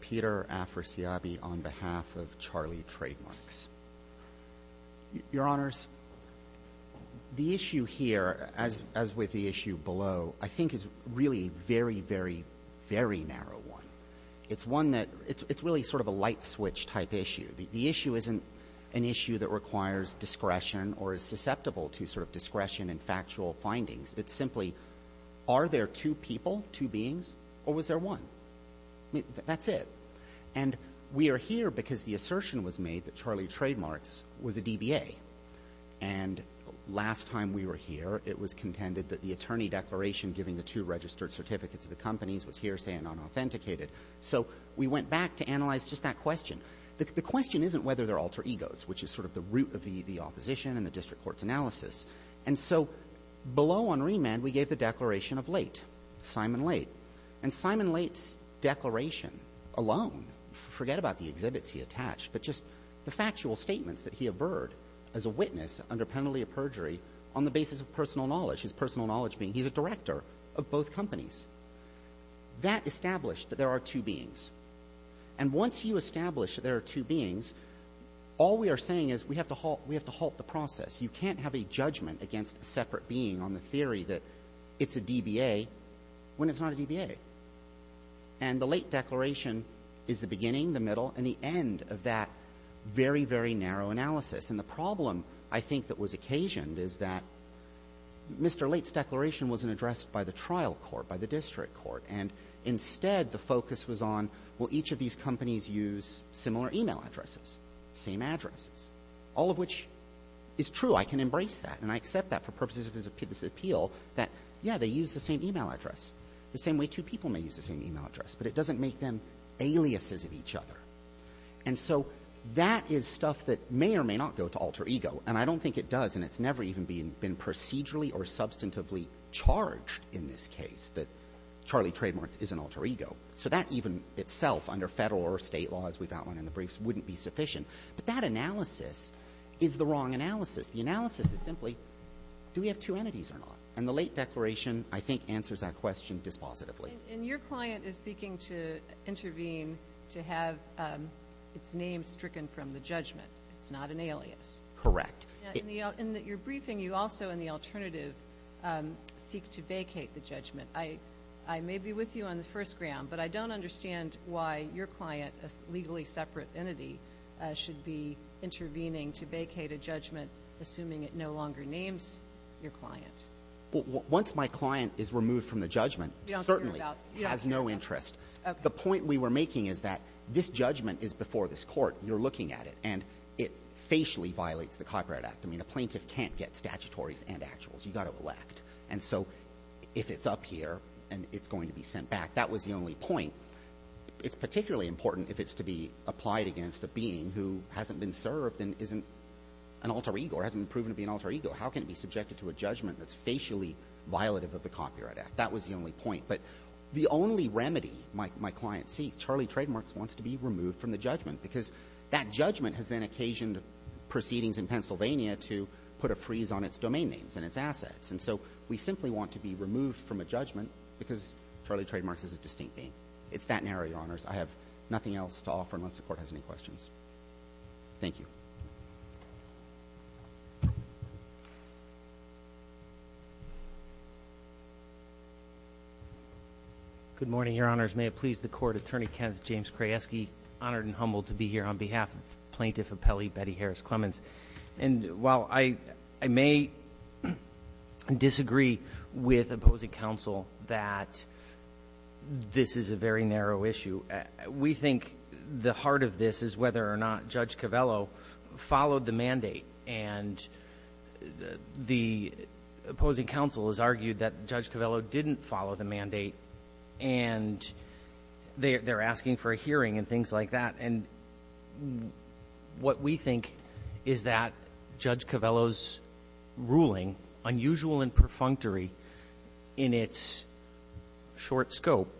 Peter Afrasiabi on behalf of Charlie Trademarks. Your Honors, the issue here, as with the issue below, I think is really a very, very, very narrow one. It's one that, it's really sort of a light switch type issue. The issue isn't an issue that requires discretion or is susceptible to sort of discretion and factual findings. It's simply, are there two people, two beings, or was there one? That's it. And we are here because the assertion was made that Charlie Trademarks was a DBA. And last time we were here, it was contended that the attorney declaration giving the two registered certificates of the companies was hearsay and unauthenticated. So we went back to analyze just that question. The question isn't whether they're alter egos, which is sort of the root of the opposition and the district court's analysis. And so below on remand, we gave the declaration of late, Simon Late. And Simon Late's declaration alone, forget about the exhibits he attached, but just the factual statements that he averred as a witness under penalty of perjury on the basis of personal knowledge, his personal knowledge being he's a director of both companies. That established that there are two beings. And once you establish that there are two beings, all we are saying is we have to halt the process. You can't have a judgment against a separate being on the theory that it's a DBA when it's not a DBA. And the late declaration is the beginning, the middle, and the end of that very, very narrow analysis. And the problem I think that was occasioned is that Mr. Late's declaration wasn't addressed by the trial court, by the district court. And instead, the focus was on will each of these companies use similar e-mail addresses, same addresses, all of which is true. I can embrace that. And I accept that for purposes of this appeal, that, yeah, they use the same e-mail address, the same way two people may use the same e-mail address. But it doesn't make them aliases of each other. And so that is stuff that may or may not go to alter ego. And I don't think it does. And it's never even been procedurally or substantively charged in this case that Charlie Trademarts is an alter ego. So that even itself under Federal or State law, as we've outlined in the briefs, wouldn't be sufficient. But that analysis is the wrong analysis. The analysis is simply do we have two entities or not. And the Late declaration, I think, answers that question dispositively. And your client is seeking to intervene to have its name stricken from the judgment. It's not an alias. Correct. In your briefing, you also in the alternative seek to vacate the judgment. I may be with you on the first ground, but I don't understand why your client, a legally separate entity, should be intervening to vacate a judgment assuming it no longer names your client. Well, once my client is removed from the judgment, it certainly has no interest. The point we were making is that this judgment is before this Court. You're looking at it. And it facially violates the Copyright Act. I mean, a plaintiff can't get statutories and actuals. You've got to elect. And so if it's up here and it's going to be sent back, that was the only point. It's particularly important if it's to be applied against a being who hasn't been served and isn't an alter ego or hasn't proven to be an alter ego. How can it be subjected to a judgment that's facially violative of the Copyright Act? That was the only point. But the only remedy my client seeks, Charlie Trademarks, wants to be removed from the judgment because that judgment has then occasioned proceedings in Pennsylvania to put a freeze on its domain names and its assets. And so we simply want to be removed from a judgment because Charlie Trademarks is a distinct name. It's that narrow, Your Honors. I have nothing else to offer unless the Court has any questions. Thank you. Good morning, Your Honors. May it please the Court. Attorney Ken James Krayeski, honored and humbled to be here on behalf of Plaintiff Appellee Betty Harris Clemens. And while I may disagree with opposing counsel that this is a very narrow issue, we think the heart of this is whether or not Judge Covello followed the mandate. And the opposing counsel has argued that Judge Covello didn't follow the mandate, and they're asking for a hearing and things like that. And what we think is that Judge Covello's ruling, unusual and perfunctory in its short scope,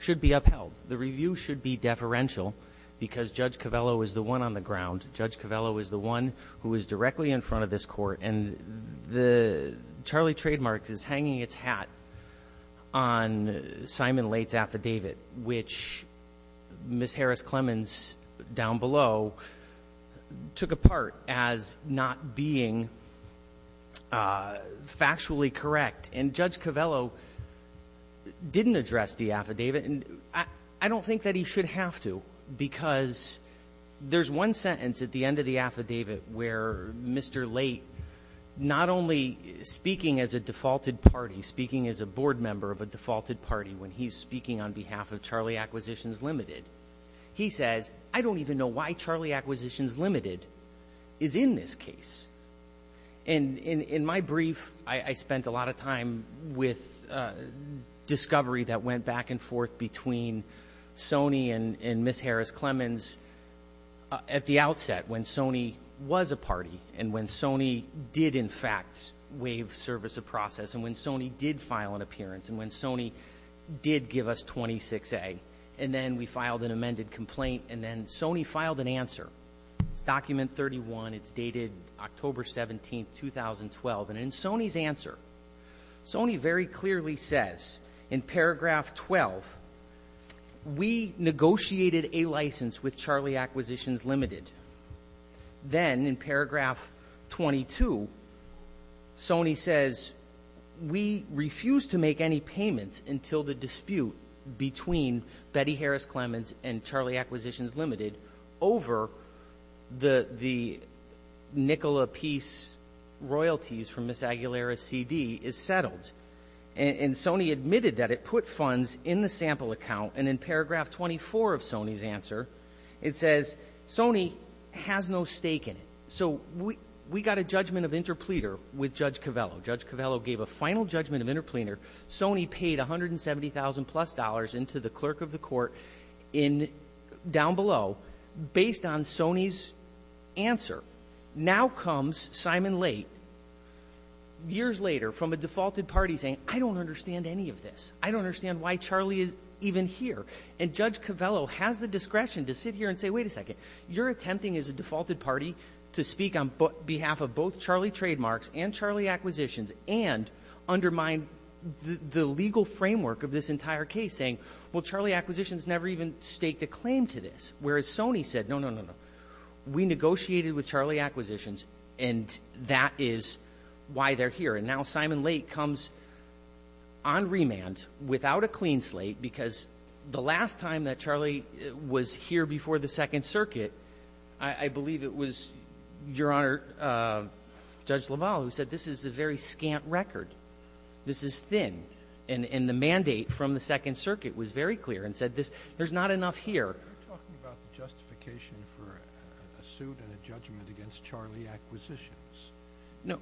should be upheld. The review should be deferential because Judge Covello is the one on the ground. Judge Covello is the one who is directly in front of this Court. And the Charlie Trademarks is hanging its hat on Simon Late's affidavit, which Ms. Harris Clemens down below took apart as not being factually correct. And Judge Covello didn't address the affidavit. And I don't think that he should have to because there's one sentence at the end of the affidavit where Mr. Late not only speaking as a defaulted party, speaking as a board member of a defaulted party when he's speaking on behalf of Charlie Acquisitions Limited, he says, I don't even know why Charlie Acquisitions Limited is in this case. In my brief, I spent a lot of time with discovery that went back and forth between Sony and Ms. Harris Clemens at the outset when Sony was a party and when Sony did in fact waive service of process and when Sony did file an appearance and when Sony did give us 26A. And then we filed an amended complaint and then Sony filed an answer. It's document 31. It's dated October 17, 2012. And in Sony's answer, Sony very clearly says in paragraph 12, we negotiated a license with Charlie Acquisitions Limited. Then in paragraph 22, Sony says we refused to make any payments until the dispute between Betty Harris Clemens and Charlie Acquisitions Limited over the nickel apiece royalties from Ms. Aguilera's CD is settled. And Sony admitted that it put funds in the sample account. And in paragraph 24 of Sony's answer, it says Sony has no stake in it. So we got a judgment of interpleader with Judge Covello. Judge Covello gave a final judgment of interpleader. Sony paid $170,000 plus into the clerk of the court down below based on Sony's answer. Now comes Simon Late years later from a defaulted party saying, I don't understand any of this. I don't understand why Charlie is even here. And Judge Covello has the discretion to sit here and say, wait a second, you're attempting as a defaulted party to speak on behalf of both Charlie Trademarks and Charlie Acquisitions and undermine the legal framework of this entire case saying, well, Charlie Acquisitions never even staked a claim to this. Whereas Sony said, no, no, no, no. We negotiated with Charlie Acquisitions, and that is why they're here. And now Simon Late comes on remand without a clean slate because the last time that Charlie was here this is a very scant record. This is thin. And the mandate from the Second Circuit was very clear and said there's not enough here. You're talking about the justification for a suit and a judgment against Charlie Acquisitions. No.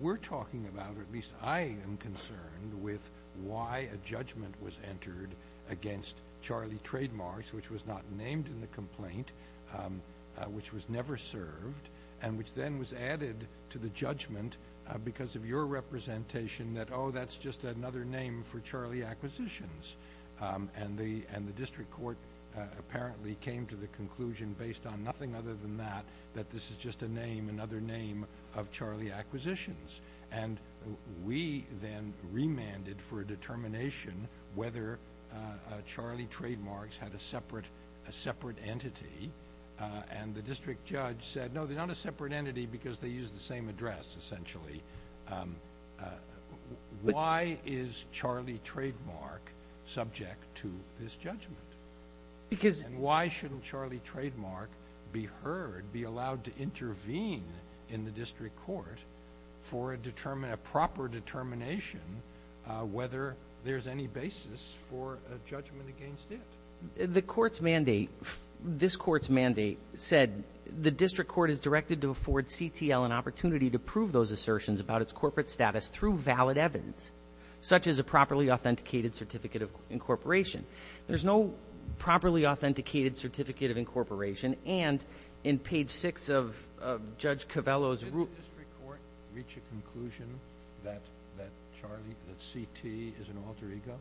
We're talking about, or at least I am concerned, with why a judgment was entered against Charlie Trademarks, which was not named in the complaint, which was never served, and which then was added to the judgment because of your representation that, oh, that's just another name for Charlie Acquisitions. And the district court apparently came to the conclusion based on nothing other than that, that this is just a name, another name of Charlie Acquisitions. And we then remanded for a determination whether Charlie Trademarks had a separate entity. And the district judge said, no, they're not a separate entity because they use the same address, essentially. Why is Charlie Trademark subject to this judgment? And why shouldn't Charlie Trademark be heard, be allowed to intervene in the district court, for a proper determination whether there's any basis for a judgment against it? The court's mandate, this court's mandate said, the district court is directed to afford CTL an opportunity to prove those assertions about its corporate status through valid evidence, such as a properly authenticated certificate of incorporation. There's no properly authenticated certificate of incorporation. And in page 6 of Judge Covello's rule ---- Did the district court reach a conclusion that Charlie, that CT is an alter ego?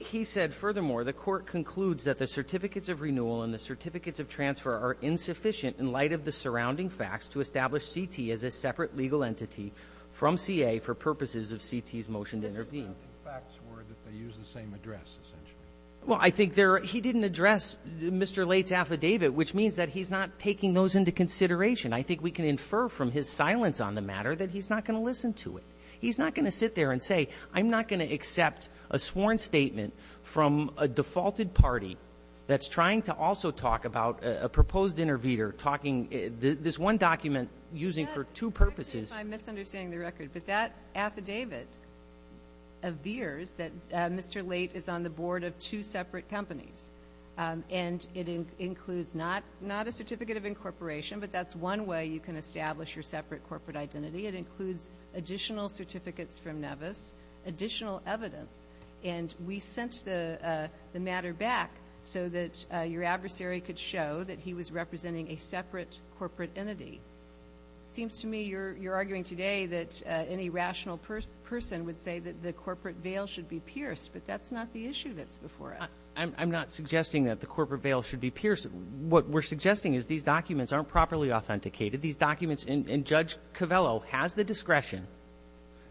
He said, furthermore, the court concludes that the certificates of renewal and the certificates of transfer are insufficient in light of the surrounding facts to establish CT as a separate legal entity from CA for purposes of CT's motion to intervene. The facts were that they use the same address, essentially. Well, I think there are ---- he didn't address Mr. Late's affidavit, which means that he's not taking those into consideration. I think we can infer from his silence on the matter that he's not going to listen to it. He's not going to sit there and say, I'm not going to accept a sworn statement from a defaulted party that's trying to also talk about a proposed intervener talking ---- this one document using for two purposes. Yes, I understand if I'm misunderstanding the record. But that affidavit veers that Mr. Late is on the board of two separate companies. And it includes not a certificate of incorporation, but that's one way you can establish your separate corporate identity. It includes additional certificates from Nevis, additional evidence. And we sent the matter back so that your adversary could show that he was representing a separate corporate entity. It seems to me you're arguing today that any rational person would say that the corporate veil should be pierced. But that's not the issue that's before us. I'm not suggesting that the corporate veil should be pierced. What we're suggesting is these documents aren't properly authenticated. These documents ---- and Judge Covello has the discretion,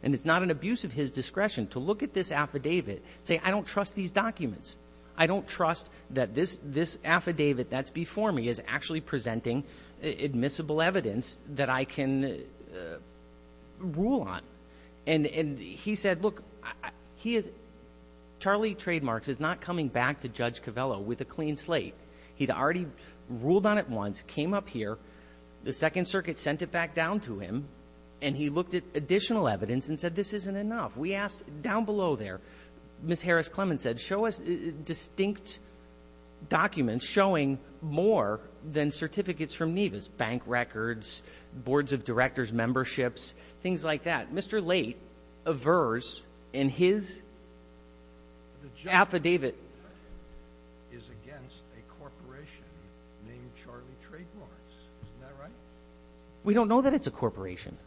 and it's not an abuse of his discretion, to look at this affidavit and say, I don't trust these documents. I don't trust that this affidavit that's before me is actually presenting admissible evidence that I can rule on. And he said, look, he is ---- Charlie Trademarks is not coming back to Judge Covello with a clean slate. He'd already ruled on it once, came up here. The Second Circuit sent it back down to him, and he looked at additional evidence and said this isn't enough. We asked down below there, Ms. Harris-Clemons said, show us distinct documents showing more than certificates from Nevis, bank records, boards of directors' memberships, things like that. Mr. Late averse in his affidavit. The judgment is against a corporation named Charlie Trademarks. Isn't that right? We don't know that it's a corporation.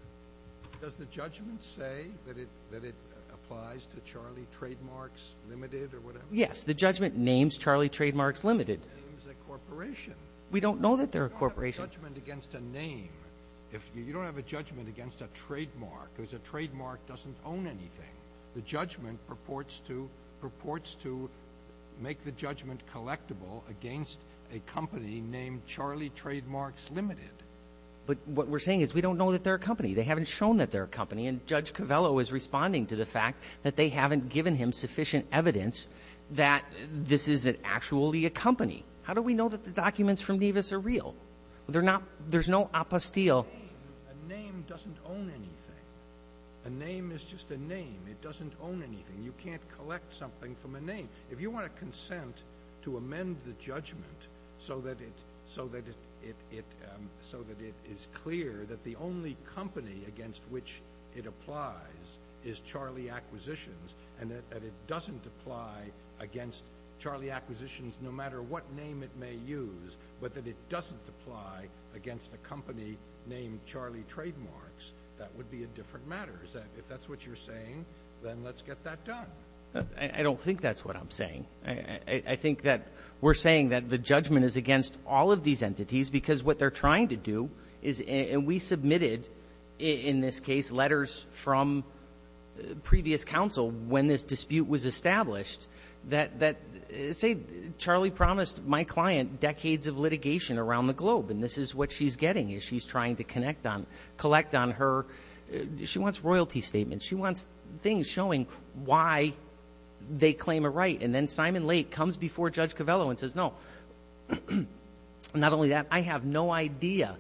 Does the judgment say that it applies to Charlie Trademarks Limited or whatever? Yes. The judgment names Charlie Trademarks Limited. We don't know that they're a corporation. You don't have a judgment against a name. You don't have a judgment against a trademark because a trademark doesn't own anything. The judgment purports to make the judgment collectible against a company named Charlie Trademarks Limited. But what we're saying is we don't know that they're a company. They haven't shown that they're a company. And Judge Covello is responding to the fact that they haven't given him sufficient evidence that this isn't actually a company. How do we know that the documents from Nevis are real? There's no apostille. A name doesn't own anything. A name is just a name. It doesn't own anything. You can't collect something from a name. If you want to consent to amend the judgment so that it is clear that the only company against which it applies is Charlie Acquisitions and that it doesn't apply against Charlie Acquisitions no matter what name it may use, but that it doesn't apply against a company named Charlie Trademarks, that would be a different matter. If that's what you're saying, then let's get that done. I don't think that's what I'm saying. I think that we're saying that the judgment is against all of these entities because what they're trying to do is – in this case, letters from previous counsel when this dispute was established that, say, Charlie promised my client decades of litigation around the globe, and this is what she's getting as she's trying to collect on her. She wants royalty statements. She wants things showing why they claim a right. And then Simon Lake comes before Judge Covello and says, no, not only that, I have no idea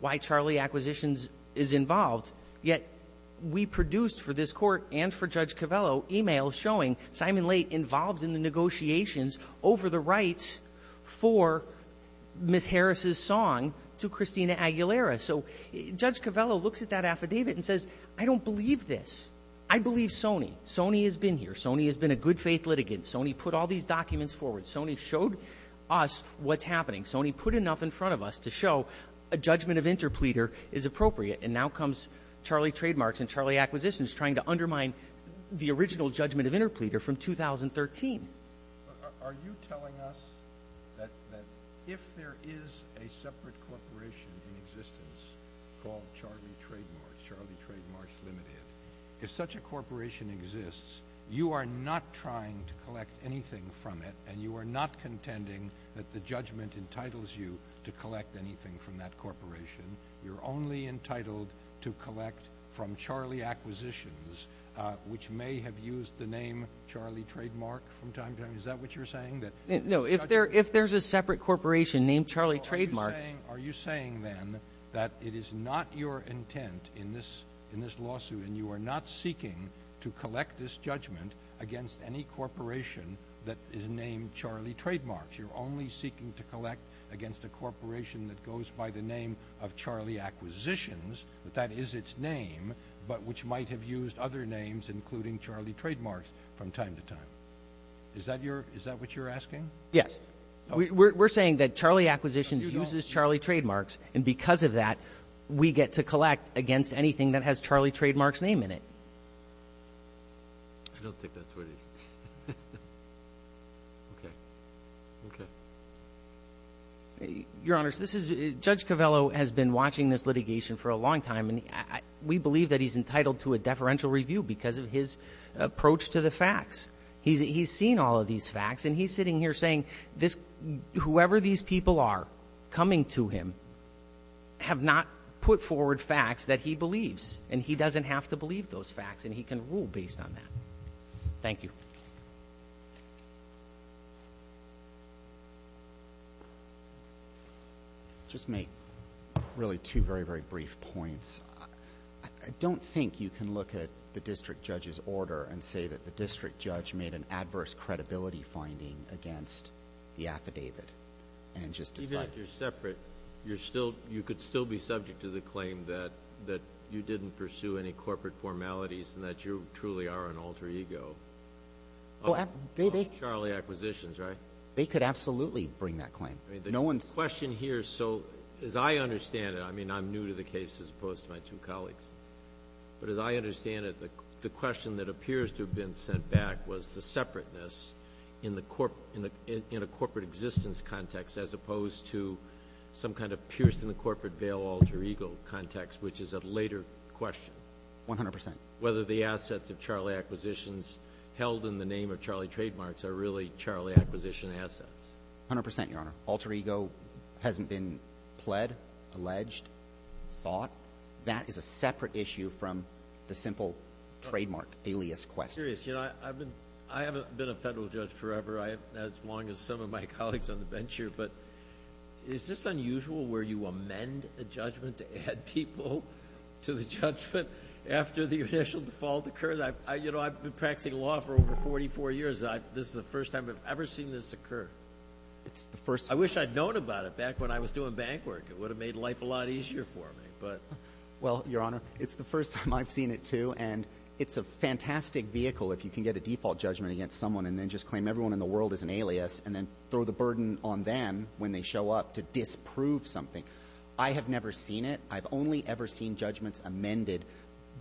why Charlie Acquisitions is involved, yet we produced for this court and for Judge Covello emails showing Simon Lake involved in the negotiations over the rights for Ms. Harris' song to Christina Aguilera. So Judge Covello looks at that affidavit and says, I don't believe this. I believe Sony. Sony has been here. Sony has been a good-faith litigant. Sony put all these documents forward. Sony showed us what's happening. Sony put enough in front of us to show a judgment of interpleader is appropriate, and now comes Charlie Trademarks and Charlie Acquisitions trying to undermine the original judgment of interpleader from 2013. Are you telling us that if there is a separate corporation in existence called Charlie Trademarks, Charlie Trademarks Limited, if such a corporation exists, you are not trying to collect anything from it and you are not contending that the judgment entitles you to collect anything from that corporation. You're only entitled to collect from Charlie Acquisitions, which may have used the name Charlie Trademark from time to time. Is that what you're saying? No, if there's a separate corporation named Charlie Trademarks. Are you saying then that it is not your intent in this lawsuit and you are not seeking to collect this judgment against any corporation that is named Charlie Trademarks? You're only seeking to collect against a corporation that goes by the name of Charlie Acquisitions, that that is its name, but which might have used other names, including Charlie Trademarks, from time to time. Is that what you're asking? Yes. We're saying that Charlie Acquisitions uses Charlie Trademarks, and because of that, we get to collect against anything that has Charlie Trademarks' name in it. I don't think that's what it is. Okay. Okay. Your Honors, Judge Covello has been watching this litigation for a long time, and we believe that he's entitled to a deferential review because of his approach to the facts. He's seen all of these facts, and he's sitting here saying whoever these people are coming to him have not put forward facts that he believes, and he doesn't have to believe those facts, and he can rule based on that. Thank you. I'll just make really two very, very brief points. I don't think you can look at the district judge's order and say that the district judge made an adverse credibility finding against the affidavit and just decide. Even if you're separate, you could still be subject to the claim that you didn't pursue any corporate formalities and that you truly are an alter ego of Charlie Acquisitions, right? They could absolutely bring that claim. The question here, so as I understand it, I mean, I'm new to the case as opposed to my two colleagues, but as I understand it, the question that appears to have been sent back was the separateness in a corporate existence context as opposed to some kind of piercing the corporate veil alter ego context, which is a later question. One hundred percent. Whether the assets of Charlie Acquisitions held in the name of Charlie Trademarks are really Charlie Acquisition assets. One hundred percent, Your Honor. Alter ego hasn't been pled, alleged, sought. That is a separate issue from the simple trademark alias question. I'm curious. I haven't been a federal judge forever, as long as some of my colleagues on the bench here, but is this unusual where you amend a judgment to add people to the judgment after the initial default occurs? I've been practicing law for over 44 years. This is the first time I've ever seen this occur. I wish I'd known about it back when I was doing bank work. It would have made life a lot easier for me. Well, Your Honor, it's the first time I've seen it too, and it's a fantastic vehicle if you can get a default judgment against someone and then just claim everyone in the world is an alias and then throw the burden on them when they show up to disprove something. I have never seen it. I've only ever seen judgments amended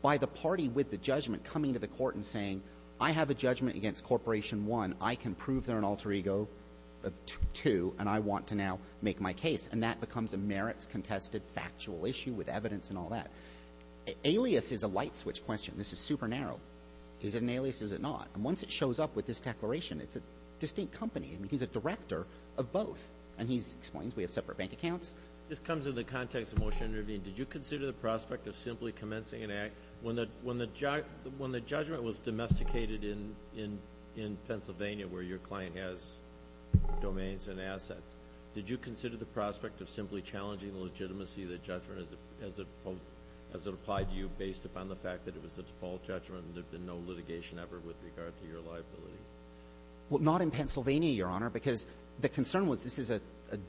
by the party with the judgment coming to the court and saying, I have a judgment against Corporation 1. I can prove they're an alter ego of 2, and I want to now make my case, and that becomes a merits-contested factual issue with evidence and all that. Alias is a light switch question. This is super narrow. Is it an alias? Is it not? And once it shows up with this declaration, it's a distinct company. I mean, he's a director of both, and he explains we have separate bank accounts. This comes in the context of motion to intervene. Did you consider the prospect of simply commencing an act when the judgment was domesticated in Pennsylvania where your client has domains and assets? Did you consider the prospect of simply challenging the legitimacy of the judgment as it applied to you based upon the fact that it was a default judgment and there had been no litigation ever with regard to your liability? Well, not in Pennsylvania, Your Honor, because the concern was this is a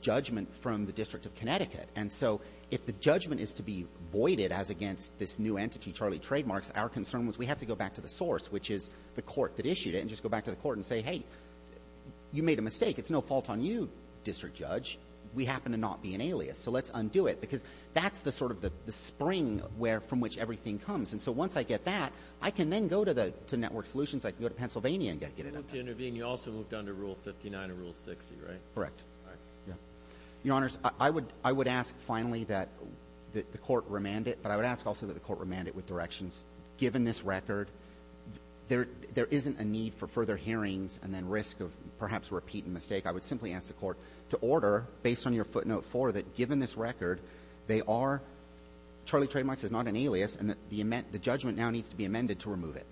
judgment from the District of Connecticut. And so if the judgment is to be voided as against this new entity, Charlie Trademarks, our concern was we have to go back to the source, which is the court that issued it, and just go back to the court and say, hey, you made a mistake. It's no fault on you, District Judge. We happen to not be an alias. So let's undo it because that's the sort of the spring from which everything comes. And so once I get that, I can then go to Network Solutions. I can go to Pennsylvania and get it out. You moved to intervene. You also moved on to Rule 59 and Rule 60, right? Correct. All right. Your Honors, I would ask finally that the court remand it, but I would ask also that the court remand it with directions. Given this record, there isn't a need for further hearings and then risk of perhaps repeat and mistake. I would simply ask the court to order, based on your footnote 4, that given this record, they are – Charlie Trademarks is not an alias, and the judgment now needs to be amended to remove it.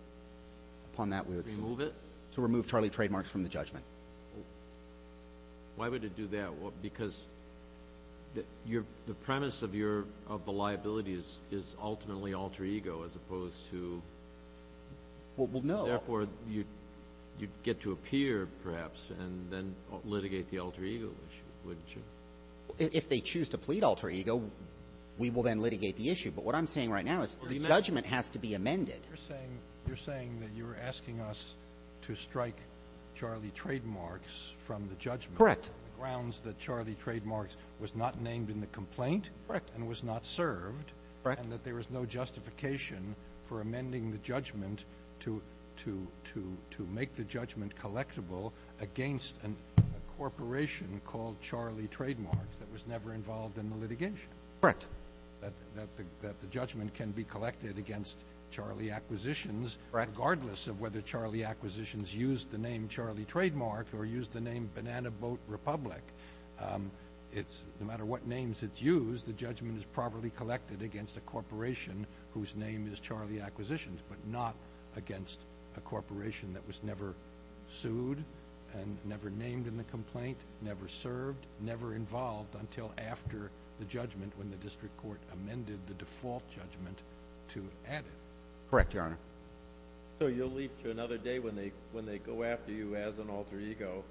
Upon that, we would see. Remove it? To remove Charlie Trademarks from the judgment. Why would it do that? Because the premise of the liability is ultimately alter ego as opposed to – Well, no. Therefore, you'd get to appear perhaps and then litigate the alter ego issue, wouldn't you? If they choose to plead alter ego, we will then litigate the issue. But what I'm saying right now is the judgment has to be amended. You're saying that you're asking us to strike Charlie Trademarks from the judgment. Correct. On the grounds that Charlie Trademarks was not named in the complaint. Correct. And was not served. Correct. And that there was no justification for amending the judgment to make the judgment collectible against a corporation called Charlie Trademarks that was never involved in the litigation. Correct. That the judgment can be collected against Charlie Acquisitions, regardless of whether Charlie Acquisitions used the name Charlie Trademarks or used the name Banana Boat Republic. No matter what names it's used, the judgment is properly collected against a corporation whose name is Charlie Acquisitions, but not against a corporation that was never sued and never named in the complaint, never served, never involved until after the judgment when the district court amended the default judgment to add it. Correct, Your Honor. So you'll leap to another day when they go after you as an alter ego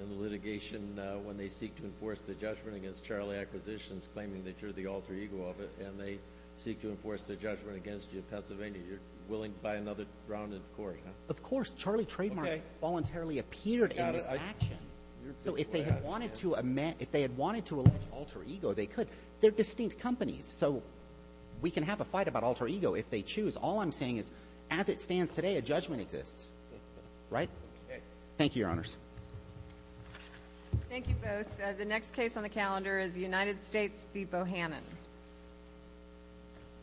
in the litigation when they seek to enforce the judgment against Charlie Acquisitions claiming that you're the alter ego of it, and they seek to enforce the judgment against you in Pennsylvania. You're willing to buy another rounded court, huh? Of course. Charlie Trademarks voluntarily appeared in this action. So if they had wanted to allege alter ego, they could. They're distinct companies, so we can have a fight about alter ego if they choose. All I'm saying is as it stands today, a judgment exists. Right? Okay. Thank you, Your Honors. Thank you both. The next case on the calendar is United States v. Bohannon.